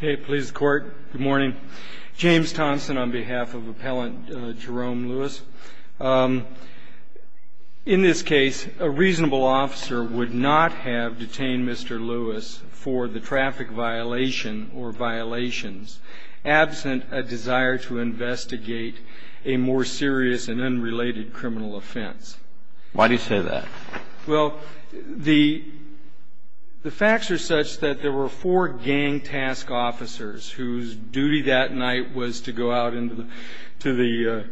Good morning. James Thompson on behalf of Appellant Jerome Lewis. In this case, a reasonable officer would not have detained Mr. Lewis for the traffic violation or violations absent a desire to investigate a more serious and unrelated criminal offense. Why do you say that? Well, the facts are such that there were four gang task officers whose duty that night was to go out into the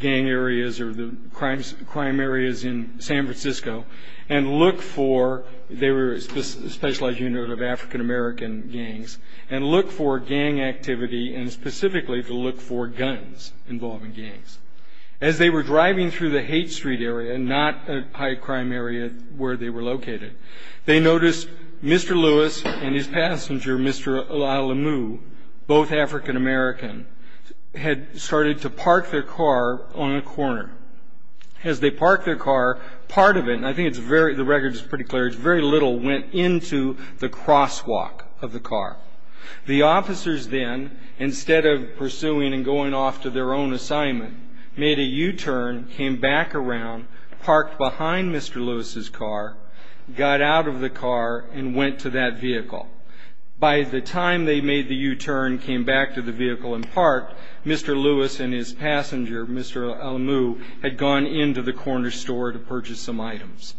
gang areas or the crime areas in San Francisco and look for, they were a specialized unit of African American gangs, and look for gang activity and specifically to look for guns involving gangs. As they were driving through the Haight Street area, not a high crime area where they were located, they noticed Mr. Lewis and his passenger, Mr. Alamu, both African American, had started to park their car on a corner. As they parked their car, part of it, and I think the record is pretty clear, very little went into the crosswalk of the car. The officers then, instead of pursuing and going off to their own assignment, made a U-turn, came back around, parked behind Mr. Lewis's car, got out of the car, and went to that vehicle. By the time they made the U-turn, came back to the vehicle and parked, Mr. Lewis and his passenger, Mr. Alamu, had gone into the corner store to purchase some items.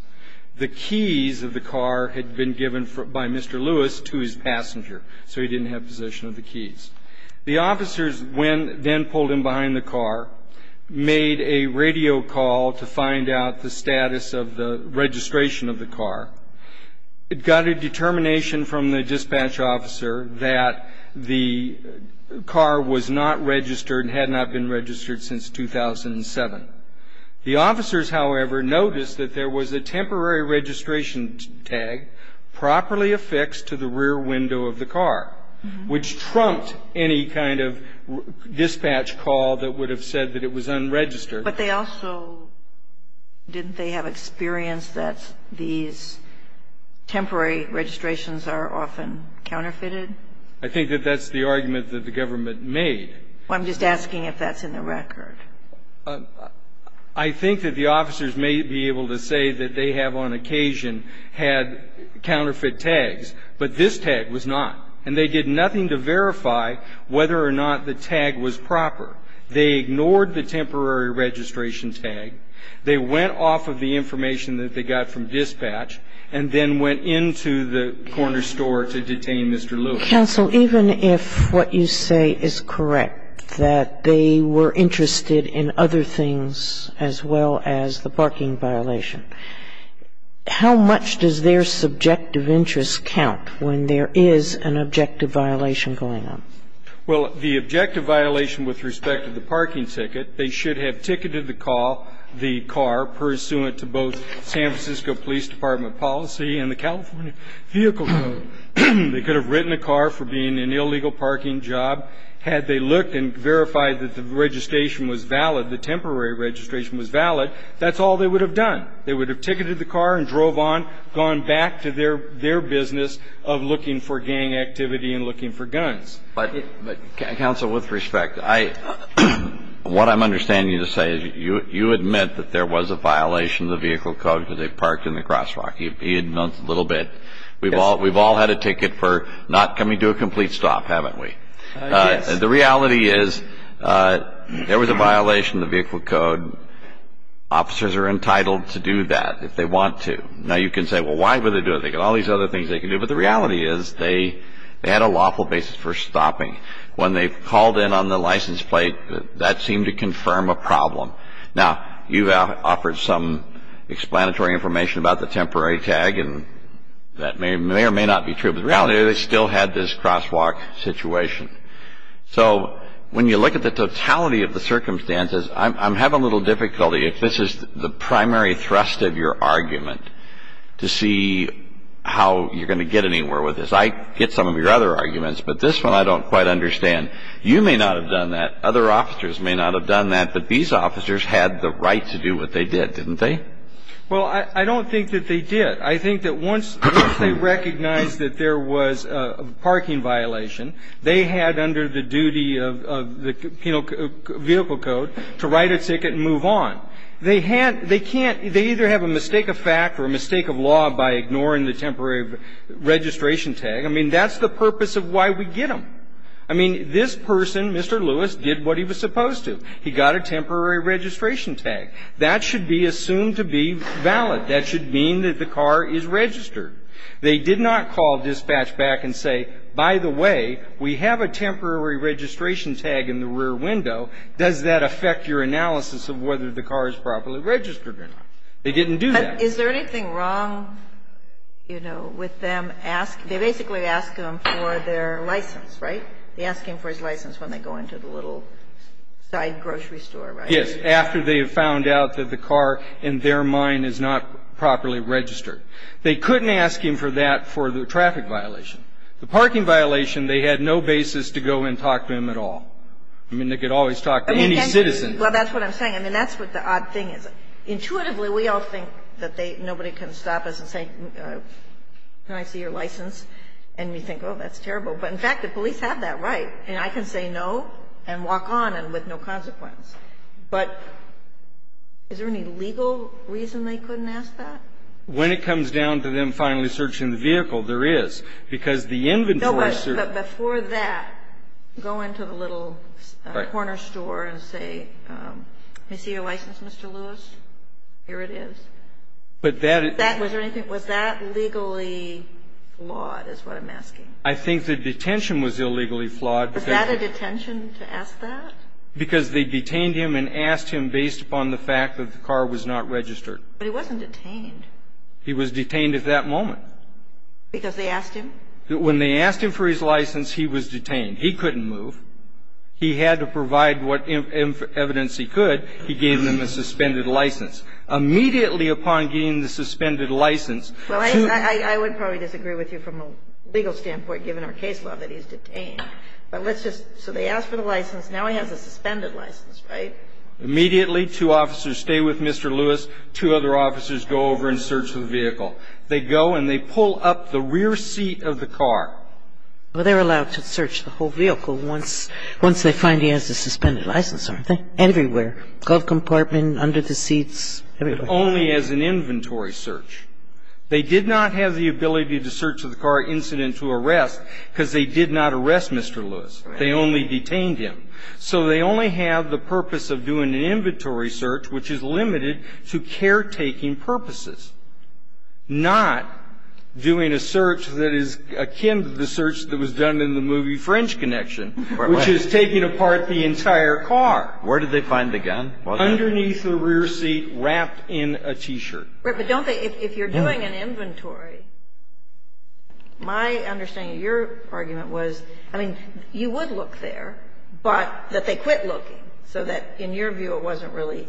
The keys of the car had been given by Mr. Lewis to his passenger, so he didn't have possession of the keys. The officers then pulled in behind the car, made a radio call to find out the status of the registration of the car. It got a determination from the dispatch officer that the car was not registered and had not been registered since 2007. The officers, however, noticed that there was a temporary registration tag properly affixed to the rear window of the car, which trumped any kind of dispatch call that would have said that it was unregistered. But they also, didn't they have experience that these temporary registrations are often counterfeited? I think that that's the argument that the government made. I'm just asking if that's in the record. I think that the officers may be able to say that they have on occasion had counterfeit tags, but this tag was not. And they did nothing to verify whether or not the tag was proper. They ignored the temporary registration tag. They went off of the information that they got from dispatch and then went into the corner store to detain Mr. Lewis. Counsel, even if what you say is correct, that they were interested in other things as well as the parking violation, how much does their subjective interest count when there is an objective violation going on? Well, the objective violation with respect to the parking ticket, they should have ticketed the call, the car, pursuant to both San Francisco Police Department policy and the California Vehicle Code. They could have written a car for being an illegal parking job. Had they looked and verified that the registration was valid, the temporary registration was valid, that's all they would have done. They would have ticketed the car and drove on, gone back to their business of looking for gang activity and looking for guns. But, Counsel, with respect, I – what I'm understanding you to say is you admit that there was a violation of the Vehicle Code because they parked in the crosswalk. He admits a little bit. We've all had a ticket for not coming to a complete stop, haven't we? Yes. The reality is there was a violation of the Vehicle Code. Officers are entitled to do that if they want to. Now, you can say, well, why would they do it? They've got all these other things they can do. But the reality is they had a lawful basis for stopping. When they called in on the license plate, that seemed to confirm a problem. Now, you've offered some explanatory information about the temporary tag, and that may or may not be true. But the reality is they still had this crosswalk situation. So when you look at the totality of the circumstances, I'm having a little difficulty, if this is the primary thrust of your argument, to see how you're going to get anywhere with this. I get some of your other arguments, but this one I don't quite understand. You may not have done that. Other officers may not have done that. But these officers had the right to do what they did, didn't they? Well, I don't think that they did. I think that once they recognized that there was a parking violation, they had under the duty of the vehicle code to write a ticket and move on. They either have a mistake of fact or a mistake of law by ignoring the temporary registration tag. I mean, that's the purpose of why we get them. I mean, this person, Mr. Lewis, did what he was supposed to. He got a temporary registration tag. That should be assumed to be valid. That should mean that the car is registered. They did not call dispatch back and say, by the way, we have a temporary registration tag in the rear window. Does that affect your analysis of whether the car is properly registered or not? They didn't do that. But is there anything wrong, you know, with them asking? They basically ask them for their license, right? They ask him for his license when they go into the little side grocery store, right? Yes, after they have found out that the car, in their mind, is not properly registered. They couldn't ask him for that for the traffic violation. The parking violation, they had no basis to go and talk to him at all. I mean, they could always talk to any citizen. Well, that's what I'm saying. I mean, that's what the odd thing is. Intuitively, we all think that nobody can stop us and say, can I see your license? And we think, oh, that's terrible. But, in fact, the police have that right, and I can say no and walk on with no consequence. But is there any legal reason they couldn't ask that? When it comes down to them finally searching the vehicle, there is. Because the inventory search ---- But before that, go into the little corner store and say, can I see your license, Mr. Lewis? Here it is. But that is ---- Was that legally flawed is what I'm asking. I think the detention was illegally flawed because ---- Was that a detention to ask that? Because they detained him and asked him based upon the fact that the car was not registered. But he wasn't detained. He was detained at that moment. Because they asked him? When they asked him for his license, he was detained. He couldn't move. He had to provide what evidence he could. He gave them a suspended license. Immediately upon getting the suspended license ---- Well, I would probably disagree with you from a legal standpoint, given our case law, that he's detained. But let's just ---- So they asked for the license. Now he has a suspended license, right? They search the vehicle, and they find him. They search the vehicle. Immediately two officers stay with Mr. Lewis, two other officers go over and search the vehicle. They go and they pull up the rear seat of the car. Well, they're allowed to search the whole vehicle once they find he has a suspended license, aren't they? Everywhere. Glove compartment, under the seats, everywhere. But only as an inventory search. They did not have the ability to search the car incident to arrest because they did not arrest Mr. Lewis. They only detained him. So they only have the purpose of doing an inventory search, which is limited to caretaking purposes, not doing a search that is akin to the search that was done in the movie French Connection, which is taking apart the entire car. Where did they find the gun? Underneath the rear seat, wrapped in a T-shirt. But don't they, if you're doing an inventory, my understanding of your argument was, I mean, you would look there, but that they quit looking so that in your view it wasn't really,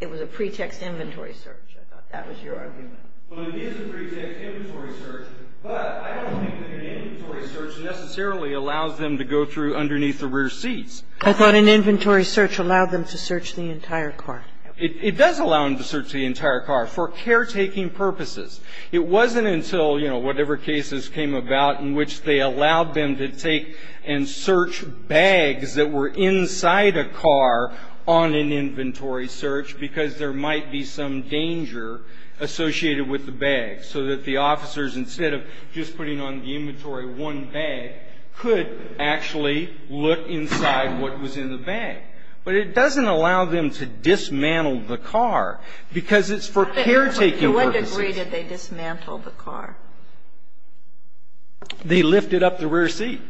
it was a pretext inventory search. I thought that was your argument. Well, it is a pretext inventory search, but I don't think that an inventory search necessarily allows them to go through underneath the rear seats. I thought an inventory search allowed them to search the entire car. It does allow them to search the entire car for caretaking purposes. It wasn't until, you know, whatever cases came about in which they allowed them to take and search bags that were inside a car on an inventory search because there might be some danger associated with the bag, so that the officers, instead of just putting on the inventory one bag, could actually look inside what was in the bag. But it doesn't allow them to dismantle the car because it's for caretaking purposes. To what degree did they dismantle the car? They lifted up the rear seat.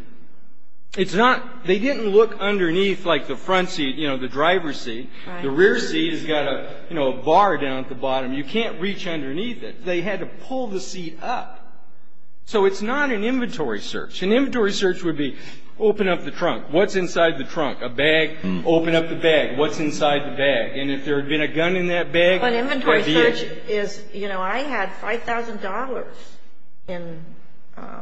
It's not, they didn't look underneath like the front seat, you know, the driver's seat. The rear seat has got a, you know, a bar down at the bottom. You can't reach underneath it. They had to pull the seat up. So it's not an inventory search. An inventory search would be open up the trunk. What's inside the trunk? A bag. Open up the bag. What's inside the bag? And if there had been a gun in that bag, that would be it. An inventory search is, you know, I had $5,000 in a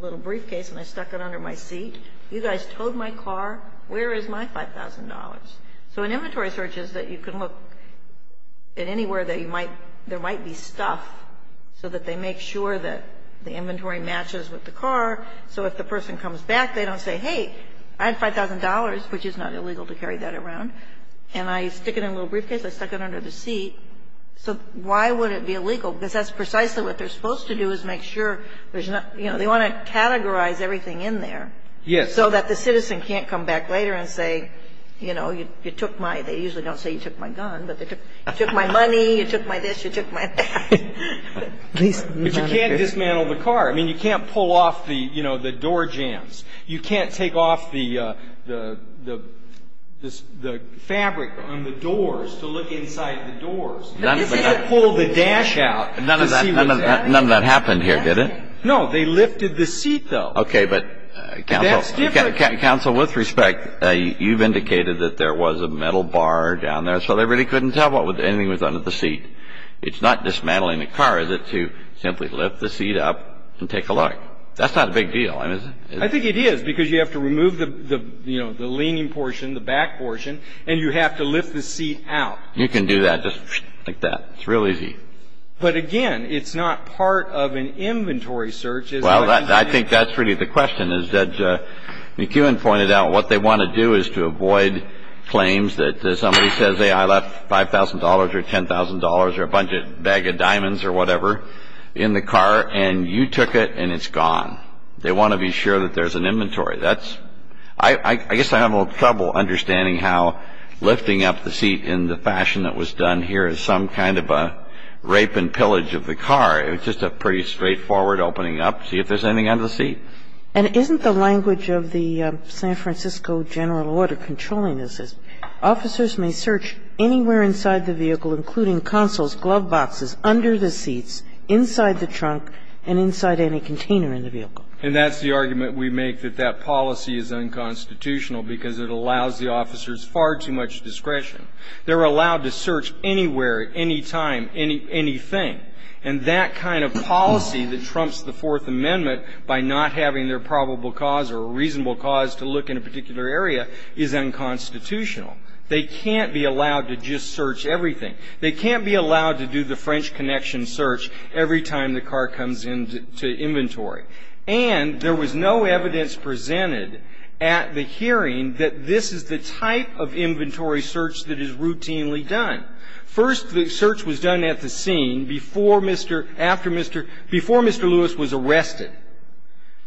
little briefcase and I stuck it under my seat. You guys towed my car. Where is my $5,000? So an inventory search is that you can look at anywhere that you might, there might be stuff so that they make sure that the inventory matches with the car. So if the person comes back, they don't say, hey, I had $5,000, which is not illegal to carry that around. And I stick it in a little briefcase. I stuck it under the seat. So why would it be illegal? Because that's precisely what they're supposed to do is make sure there's not, you know, they want to categorize everything in there. Yes. So that the citizen can't come back later and say, you know, you took my, they usually don't say you took my gun, but they took my money, you took my this, you took my that. But you can't dismantle the car. I mean, you can't pull off the, you know, the door jams. You can't take off the fabric on the doors to look inside the doors. You can't pull the dash out to see what's happening. None of that happened here, did it? No. They lifted the seat, though. Okay. But counsel, with respect, you've indicated that there was a metal bar down there. So they really couldn't tell anything was under the seat. It's not dismantling the car, is it, to simply lift the seat up and take a look? That's not a big deal, is it? I think it is because you have to remove the, you know, the leaning portion, the back portion, and you have to lift the seat out. You can do that just like that. It's real easy. But, again, it's not part of an inventory search, is it? Well, I think that's really the question, is that McEwen pointed out what they want to do is to avoid claims that somebody says, I left $5,000 or $10,000 or a bunch of bag of diamonds or whatever in the car, and you took it, and it's gone. They want to be sure that there's an inventory. That's – I guess I have a little trouble understanding how lifting up the seat in the fashion that was done here is some kind of a rape and pillage of the car. It was just a pretty straightforward opening up, see if there's anything under the seat. And isn't the language of the San Francisco general order controlling this? Officers may search anywhere inside the vehicle, including consoles, glove boxes, under the seats, inside the trunk, and inside any container in the vehicle. And that's the argument we make, that that policy is unconstitutional because it allows the officers far too much discretion. They're allowed to search anywhere, anytime, anything. And that kind of policy that trumps the Fourth Amendment by not having their probable cause or a reasonable cause to look in a particular area is unconstitutional. They can't be allowed to just search everything. They can't be allowed to do the French Connection search every time the car comes into inventory. And there was no evidence presented at the hearing that this is the type of inventory search that is routinely done. First the search was done at the scene before Mr. Louis was arrested.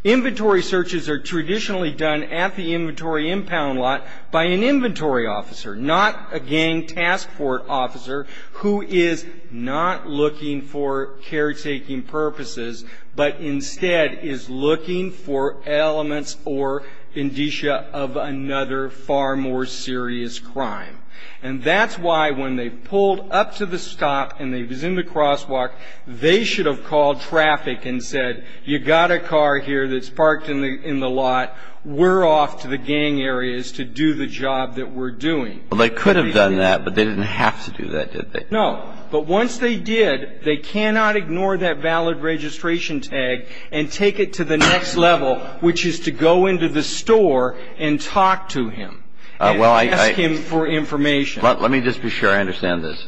Inventory searches are traditionally done at the inventory impound lot by an inventory officer, not a gang task force officer who is not looking for caretaking purposes, but instead is looking for elements or indicia of another far more serious crime. And that's why when they pulled up to the stop and they was in the crosswalk, they should have called traffic and said, you got a car here that's parked in the lot. We're off to the gang areas to do the job that we're doing. Well, they could have done that, but they didn't have to do that, did they? No. But once they did, they cannot ignore that valid registration tag and take it to the next level, which is to go into the store and talk to him. And ask him for information. Well, let me just be sure I understand this.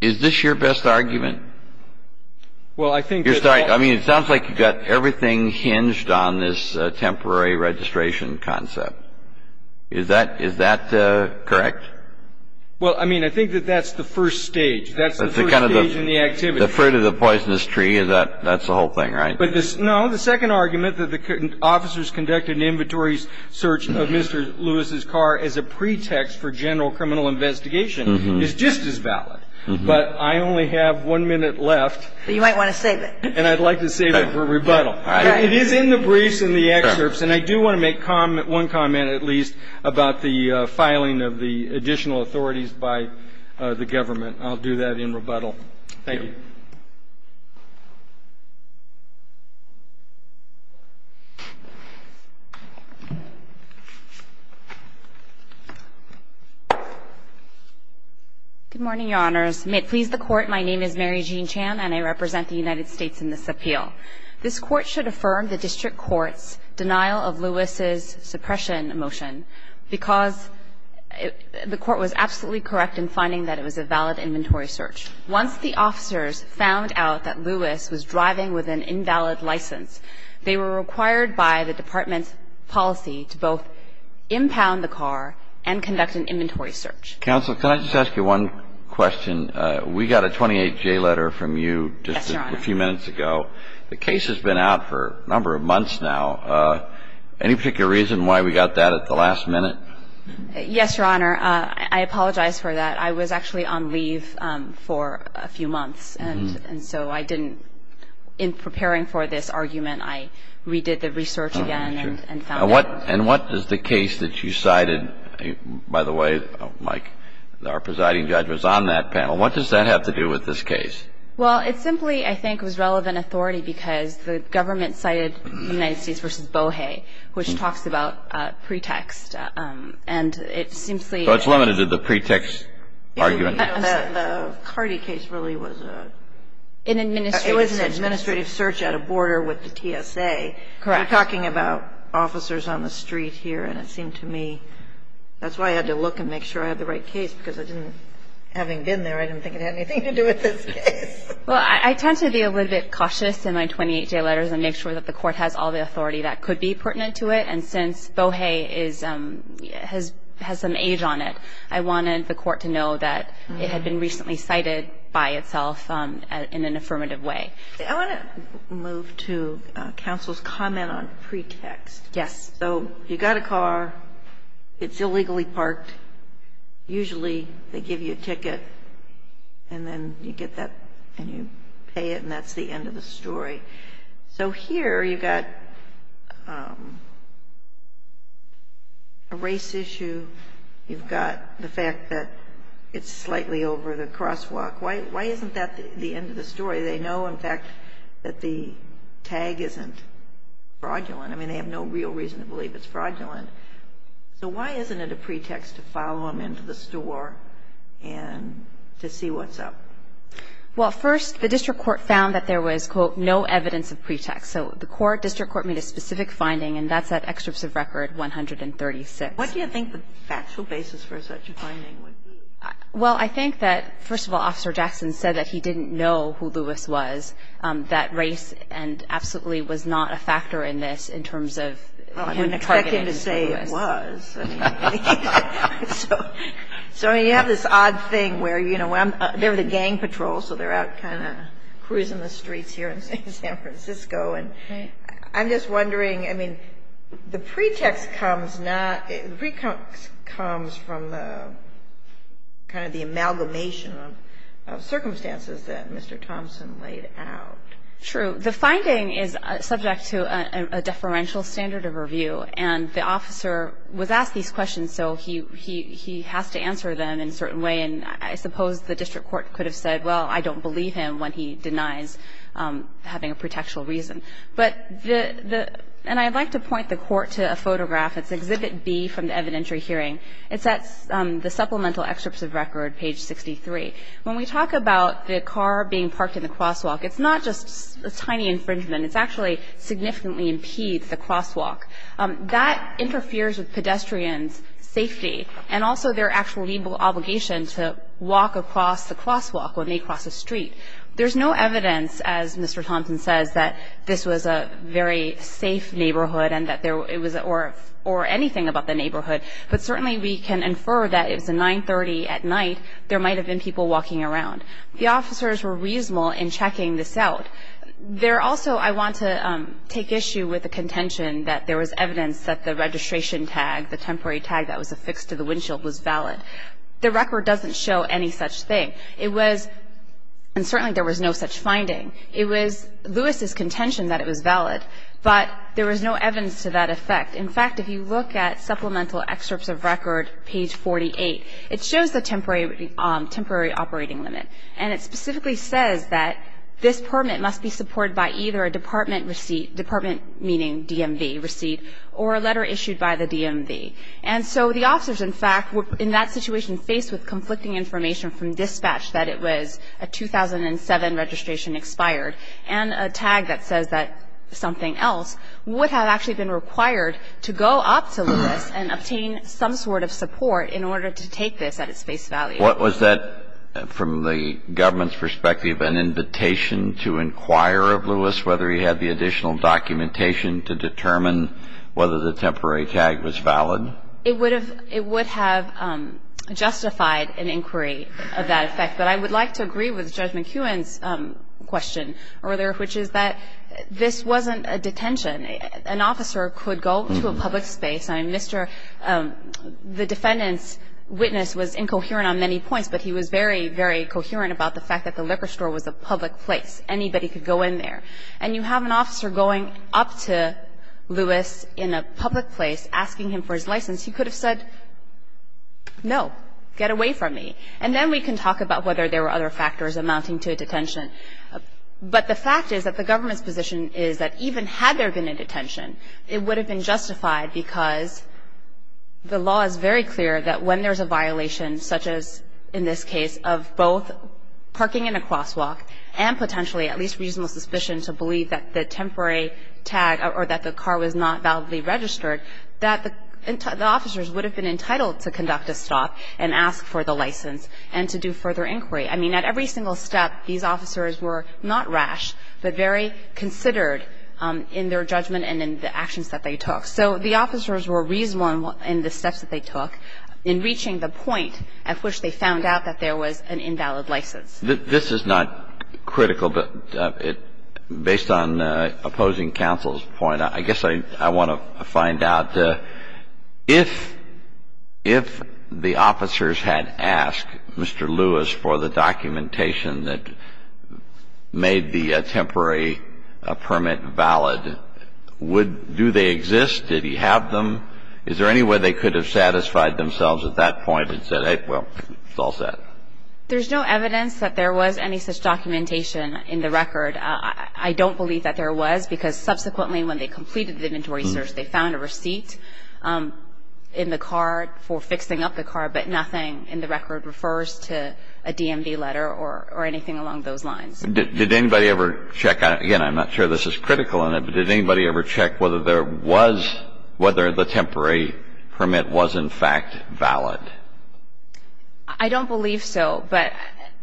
Is this your best argument? Well, I think that all of them. I mean, it sounds like you've got everything hinged on this temporary registration concept. Is that correct? Well, I mean, I think that that's the first stage. That's the first stage in the activity. The fruit of the poisonous tree, that's the whole thing, right? No, the second argument that the officers conducted an inventory search of Mr. Lewis's car as a pretext for general criminal investigation is just as valid. But I only have one minute left. But you might want to save it. And I'd like to save it for rebuttal. It is in the briefs and the excerpts, and I do want to make one comment at least about the filing of the additional authorities by the government. I'll do that in rebuttal. Thank you. Good morning, Your Honors. May it please the Court, my name is Mary Jean Chan, and I represent the United States in this appeal. This Court should affirm the District Court's denial of Lewis's suppression motion because the Court was absolutely correct in finding that it was a valid inventory search. Once the officers found out that Lewis was driving with an invalid license, they were required by the Department's policy to both impound the car and conduct an inventory search. Counsel, can I just ask you one question? We got a 28-J letter from you just a few minutes ago. The case has been out for a number of months now. Any particular reason why we got that at the last minute? Yes, Your Honor. I apologize for that. I was actually on leave for a few months, and so I didn't, in preparing for this argument, I redid the research again and found out. And what is the case that you cited, by the way, Mike, our presiding judge was on that panel. What does that have to do with this case? Well, it simply, I think, was relevant authority because the government cited United States v. Bohe, which talks about pretext. And it simply. So it's limited to the pretext argument. The Cardi case really was a. An administrative search. It was an administrative search at a border with the TSA. Correct. We're talking about officers on the street here, and it seemed to me, that's why I had to look and make sure I had the right case, because I didn't, having been there, I didn't think it had anything to do with this case. Well, I tend to be a little bit cautious in my 28-J letters and make sure that the court has all the authority that could be pertinent to it. And since Bohe has some age on it, I wanted the court to know that it had been recently cited by itself in an affirmative way. I want to move to counsel's comment on pretext. Yes. So you've got a car. It's illegally parked. Usually they give you a ticket, and then you get that and you pay it, and that's the end of the story. So here you've got a race issue. You've got the fact that it's slightly over the crosswalk. Why isn't that the end of the story? They know, in fact, that the tag isn't fraudulent. I mean, they have no real reason to believe it's fraudulent. So why isn't it a pretext to follow them into the store and to see what's up? Well, first, the district court found that there was, quote, no evidence of pretext. So the court, district court, made a specific finding, and that's at Excerpts of Record 136. What do you think the factual basis for such a finding would be? Well, I think that, first of all, Officer Jackson said that he didn't know who Lewis was, that race absolutely was not a factor in this in terms of him targeting Lewis. Well, I wouldn't expect him to say it was. So, I mean, you have this odd thing where, you know, they're the gang patrol, so they're out kind of cruising the streets here in San Francisco. And I'm just wondering, I mean, the pretext comes from kind of the amalgamation of circumstances that Mr. Thompson laid out. True. The finding is subject to a deferential standard of review, and the officer was asked these questions, so he has to answer them in a certain way. And I suppose the district court could have said, well, I don't believe him when he denies having a pretextual reason. But the – and I'd like to point the court to a photograph. It's Exhibit B from the evidentiary hearing. It's at the supplemental Excerpts of Record, page 63. When we talk about the car being parked in the crosswalk, it's not just a tiny infringement. It's actually significantly impedes the crosswalk. That interferes with pedestrians' safety and also their actual legal obligation to walk across the crosswalk when they cross the street. There's no evidence, as Mr. Thompson says, that this was a very safe neighborhood and that there – or anything about the neighborhood. But certainly we can infer that if it's a 930 at night, there might have been people walking around. The officers were reasonable in checking this out. There also – I want to take issue with the contention that there was evidence that the registration tag, the temporary tag that was affixed to the windshield, was valid. The record doesn't show any such thing. It was – and certainly there was no such finding. It was Lewis's contention that it was valid, but there was no evidence to that effect. In fact, if you look at Supplemental Excerpts of Record, page 48, it shows the temporary operating limit. And it specifically says that this permit must be supported by either a department receipt – department meaning DMV receipt – or a letter issued by the DMV. And so the officers, in fact, were in that situation faced with conflicting information from dispatch that it was a 2007 registration expired and a tag that says that something else would have actually been required to go up to Lewis and obtain some sort of support in order to take this at its face value. What was that, from the government's perspective, an invitation to inquire of Lewis, whether he had the additional documentation to determine whether the temporary tag was valid? It would have – it would have justified an inquiry of that effect. But I would like to agree with Judge McEwen's question earlier, which is that this wasn't a detention. An officer could go to a public space. I mean, Mr. – the defendant's witness was incoherent on many points, but he was very, very coherent about the fact that the liquor store was a public place. Anybody could go in there. And you have an officer going up to Lewis in a public place asking him for his license. He could have said, no, get away from me. And then we can talk about whether there were other factors amounting to a detention. But the fact is that the government's position is that even had there been a detention, it would have been justified because the law is very clear that when there's a violation such as, in this case, of both parking in a crosswalk and potentially at least reasonable suspicion to believe that the temporary tag or that the car was not validly registered, that the officers would have been entitled to conduct a stop and ask for the license and to do further inquiry. I mean, at every single step, these officers were not rash, but very considered in their judgment and in the actions that they took. So the officers were reasonable in the steps that they took in reaching the point at which they found out that there was an invalid license. This is not critical, but based on opposing counsel's point, I guess I want to find out if the officers had asked Mr. Lewis for the documentation that made the attempt on the temporary permit valid. Do they exist? Did he have them? Is there any way they could have satisfied themselves at that point and said, hey, well, it's all set? There's no evidence that there was any such documentation in the record. I don't believe that there was because subsequently when they completed the inventory search, they found a receipt in the car for fixing up the car, but nothing in the record refers to a DMV letter or anything along those lines. Did anybody ever check on it? Again, I'm not sure this is critical in it, but did anybody ever check whether there was, whether the temporary permit was in fact valid? I don't believe so. But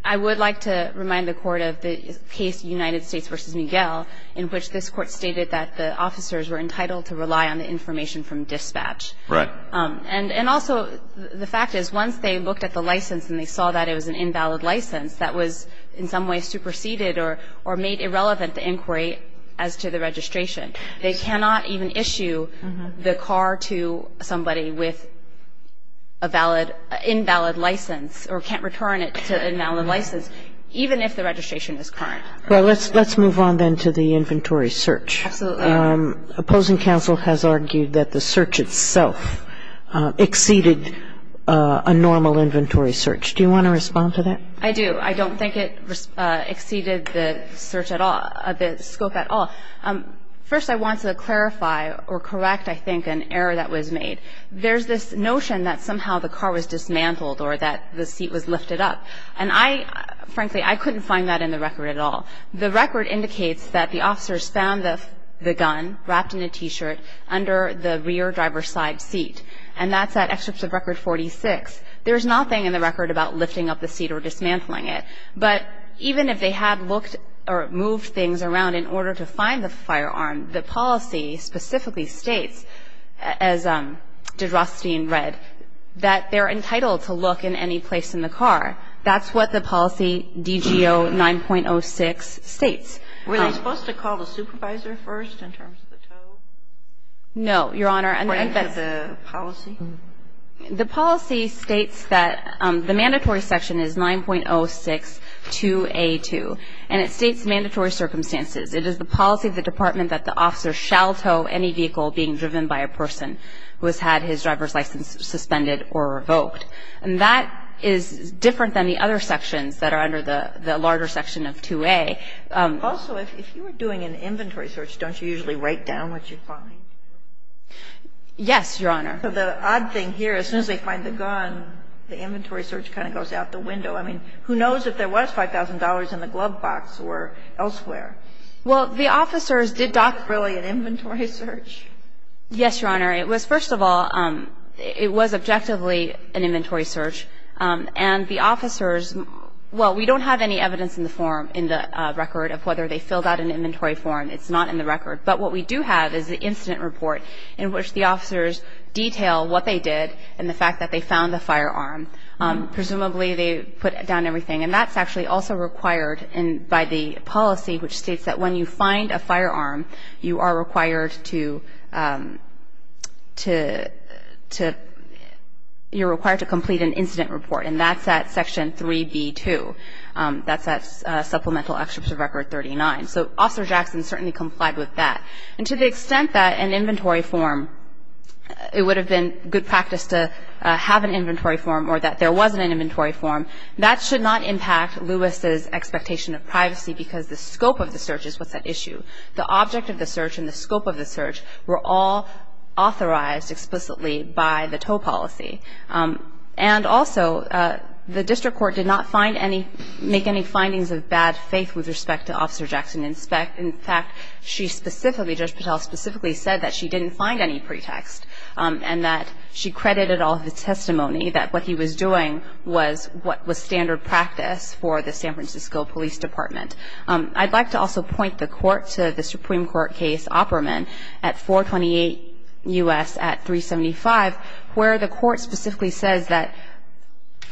I would like to remind the Court of the case United States v. Miguel, in which this Court stated that the officers were entitled to rely on the information from dispatch. Right. And also the fact is once they looked at the license and they saw that it was an invalid license, that was in some way superseded or made irrelevant to inquiry as to the registration. They cannot even issue the car to somebody with a valid, invalid license or can't return it to an invalid license, even if the registration is current. Well, let's move on then to the inventory search. Absolutely. Opposing counsel has argued that the search itself exceeded a normal inventory search. Do you want to respond to that? I do. I don't think it exceeded the search at all, the scope at all. First, I want to clarify or correct, I think, an error that was made. There's this notion that somehow the car was dismantled or that the seat was lifted up. And I, frankly, I couldn't find that in the record at all. The record indicates that the officers found the gun wrapped in a T-shirt under the rear driver's side seat. And that's that excerpt of Record 46. There's nothing in the record about lifting up the seat or dismantling it. But even if they had looked or moved things around in order to find the firearm, the policy specifically states, as did Rothstein read, that they're entitled to look in any place in the car. That's what the policy DGO 9.06 states. Were they supposed to call the supervisor first in terms of the total? No, Your Honor. Or enter the policy? The policy states that the mandatory section is 9.06 2A2, and it states mandatory circumstances. It is the policy of the Department that the officer shall tow any vehicle being driven by a person who has had his driver's license suspended or revoked. And that is different than the other sections that are under the larger section of 2A. Also, if you were doing an inventory search, don't you usually write down what you find? Yes, Your Honor. So the odd thing here is as soon as they find the gun, the inventory search kind of goes out the window. I mean, who knows if there was $5,000 in the glove box or elsewhere? Well, the officers did not do an inventory search. Yes, Your Honor. It was, first of all, it was objectively an inventory search. And the officers, well, we don't have any evidence in the form in the record of whether they filled out an inventory form. It's not in the record. But what we do have is the incident report in which the officers detail what they did and the fact that they found the firearm. Presumably they put down everything. And that's actually also required by the policy, which states that when you find a firearm, you are required to complete an incident report. And that's at Section 3B-2. That's at Supplemental Excerpt of Record 39. So Officer Jackson certainly complied with that. And to the extent that an inventory form, it would have been good practice to have an inventory form or that there was an inventory form, that should not impact Lewis' expectation of privacy because the scope of the search is what's at issue. The object of the search and the scope of the search were all authorized explicitly by the Toe policy. And also, the district court did not make any findings of bad faith with respect to Officer Jackson. In fact, she specifically, Judge Patel specifically said that she didn't find any pretext and that she credited all of the testimony that what he was doing was what was standard practice for the San Francisco Police Department. I'd like to also point the Court to the Supreme Court case Opperman at 428 U.S. at 375, where the Court specifically says that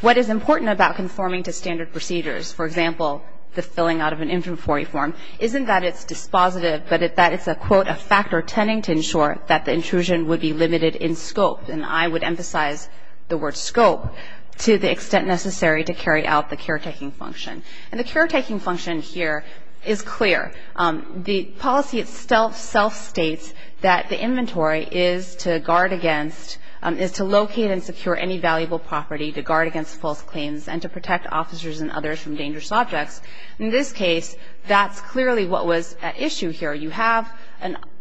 what is important about conforming to standard procedures, for example, the filling out of an inventory form, isn't that it's dispositive, but that it's a, quote, a factor tending to ensure that the intrusion would be limited in scope. And I would emphasize the word scope to the extent necessary to carry out the caretaking function. And the caretaking function here is clear. The policy itself states that the inventory is to guard against, is to locate and secure any valuable property to guard against false claims and to protect officers and others from dangerous objects. In this case, that's clearly what was at issue here. You have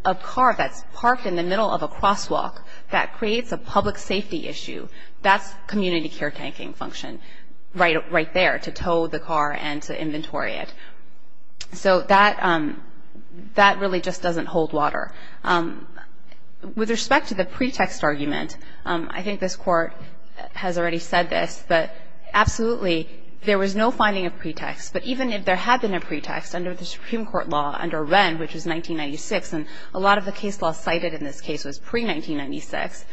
a car that's parked in the middle of a crosswalk that creates a public safety issue. That's community caretaking function right there, to tow the car and to inventory it. So that really just doesn't hold water. With respect to the pretext argument, I think this Court has already said this, but absolutely there was no finding of pretext. But even if there had been a pretext under the Supreme Court law, under Wren, which was 1996, and a lot of the case law cited in this case was pre-1996,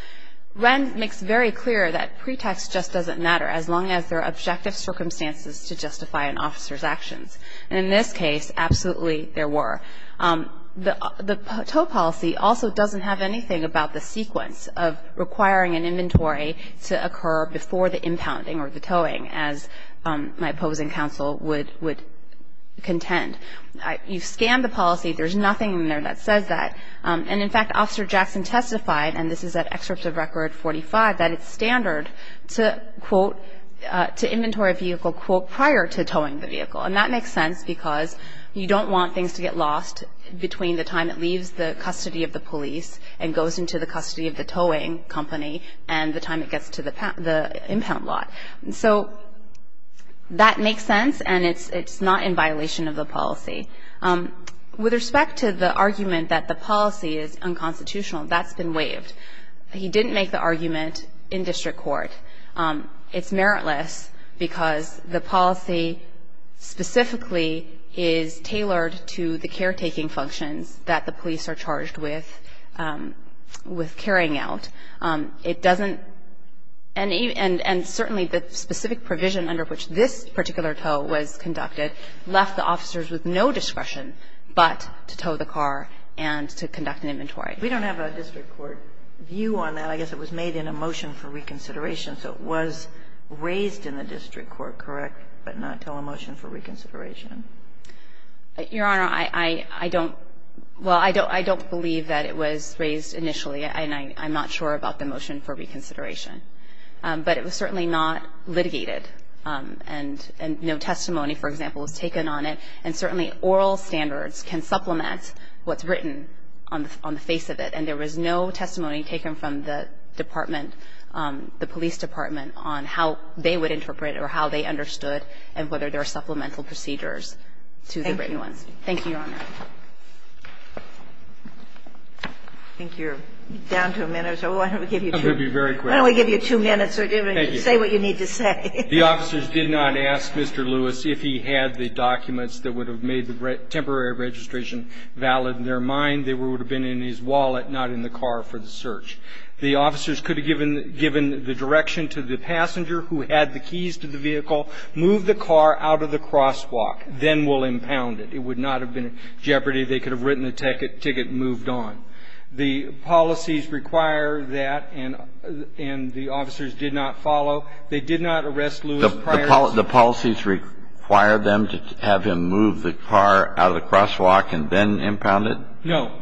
Wren makes very clear that pretext just doesn't matter as long as there are objective circumstances to justify an officer's actions. And in this case, absolutely there were. The tow policy also doesn't have anything about the sequence of requiring an inventory to occur before the impounding or the towing, as my opposing counsel would contend. You scan the policy. There's nothing in there that says that. And, in fact, Officer Jackson testified, and this is at Excerpt of Record 45, that it's standard to, quote, to inventory a vehicle, quote, prior to towing the vehicle. And that makes sense because you don't want things to get lost between the time it leaves the custody of the police and goes into the custody of the towing company and the time it gets to the impound lot. So that makes sense, and it's not in violation of the policy. With respect to the argument that the policy is unconstitutional, that's been waived. He didn't make the argument in district court. It's meritless because the policy specifically is tailored to the caretaking functions that the police are charged with, with carrying out. It doesn't any of the specific provision under which this particular tow was conducted left the officers with no discretion but to tow the car and to conduct an inventory. And I don't believe that it was raised initially, and I'm not sure about the motion for reconsideration. But it was certainly not litigated, and no testimony, for example, was taken on it. And certainly oral standards can supplement what's written on the face of the statute And there was no testimony taken from the department, the police department, on how they would interpret or how they understood and whether there are supplemental procedures to the written ones. Thank you, Your Honor. I think you're down to a minute or so. Why don't we give you two? I'm going to be very quick. Why don't we give you two minutes or whatever. Thank you. Say what you need to say. The officers did not ask Mr. Lewis if he had the documents that would have made the temporary registration valid in their mind. They would have been in his wallet, not in the car for the search. The officers could have given the direction to the passenger who had the keys to the vehicle, move the car out of the crosswalk, then will impound it. It would not have been in jeopardy. They could have written the ticket and moved on. The policies require that, and the officers did not follow. They did not arrest Lewis prior to that. Did the officers move the car out of the crosswalk and then impound it? No.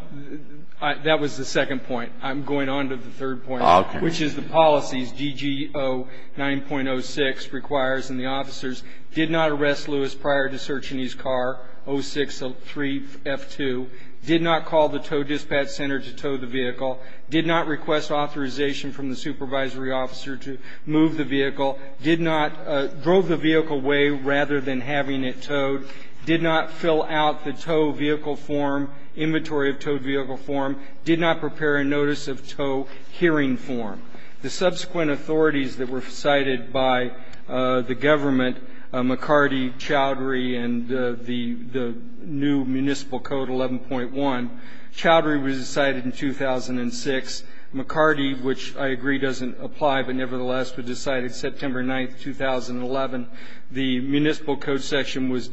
That was the second point. I'm going on to the third point, which is the policies, GG09.06, requires, and the officers did not arrest Lewis prior to searching his car, 06-3F2, did not call the tow dispatch center to tow the vehicle, did not request authorization from the supervisory officer to move the vehicle, drove the vehicle away rather than having it towed, did not fill out the tow vehicle form, inventory of tow vehicle form, did not prepare a notice of tow hearing form. The subsequent authorities that were cited by the government, McCarty, Chowdhury, and the new municipal code, 11.1, Chowdhury was decided in 2006. McCarty, which I agree doesn't apply, but nevertheless was decided September 9, 2011. The municipal code section was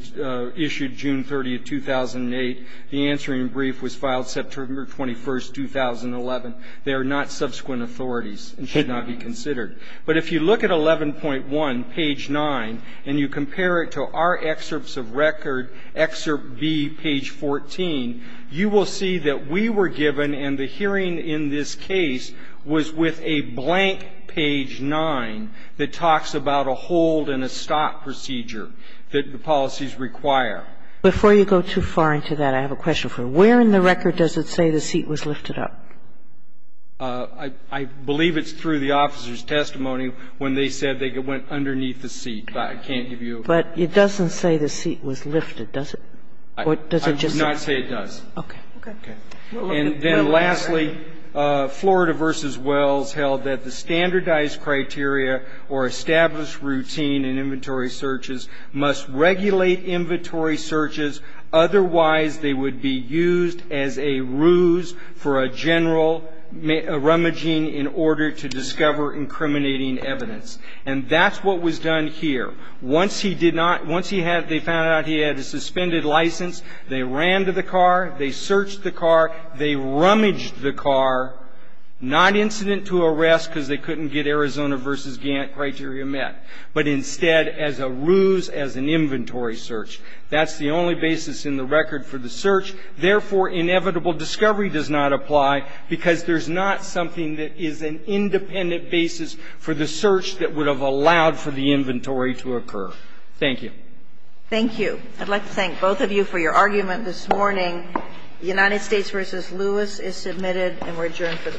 issued June 30, 2008. The answering brief was filed September 21, 2011. They are not subsequent authorities and should not be considered. But if you look at 11.1, page 9, and you compare it to our excerpts of record, excerpt B, page 14, you will see that we were given and the hearing in this case was with a blank page 9 that talks about a hold and a stop procedure that the policies require. Before you go too far into that, I have a question for you. Where in the record does it say the seat was lifted up? I believe it's through the officer's testimony when they said they went underneath the seat, but I can't give you. But it doesn't say the seat was lifted, does it? I would not say it does. Okay. Okay. And then lastly, Florida v. Wells held that the standardized criteria or established routine in inventory searches must regulate inventory searches, otherwise they would be used as a ruse for a general rummaging in order to discover incriminating evidence. And that's what was done here. Once he did not, once they found out he had a suspended license, they ran to the car, they searched the car, they rummaged the car, not incident to arrest because they couldn't get Arizona v. Gantt criteria met, but instead as a ruse as an inventory search. That's the only basis in the record for the search. Therefore, inevitable discovery does not apply because there's not something that is an independent basis for the search that would have allowed for the inventory to occur. Thank you. Thank you. I'd like to thank both of you for your argument this morning. United States v. Lewis is submitted and we're adjourned for the morning. All rise.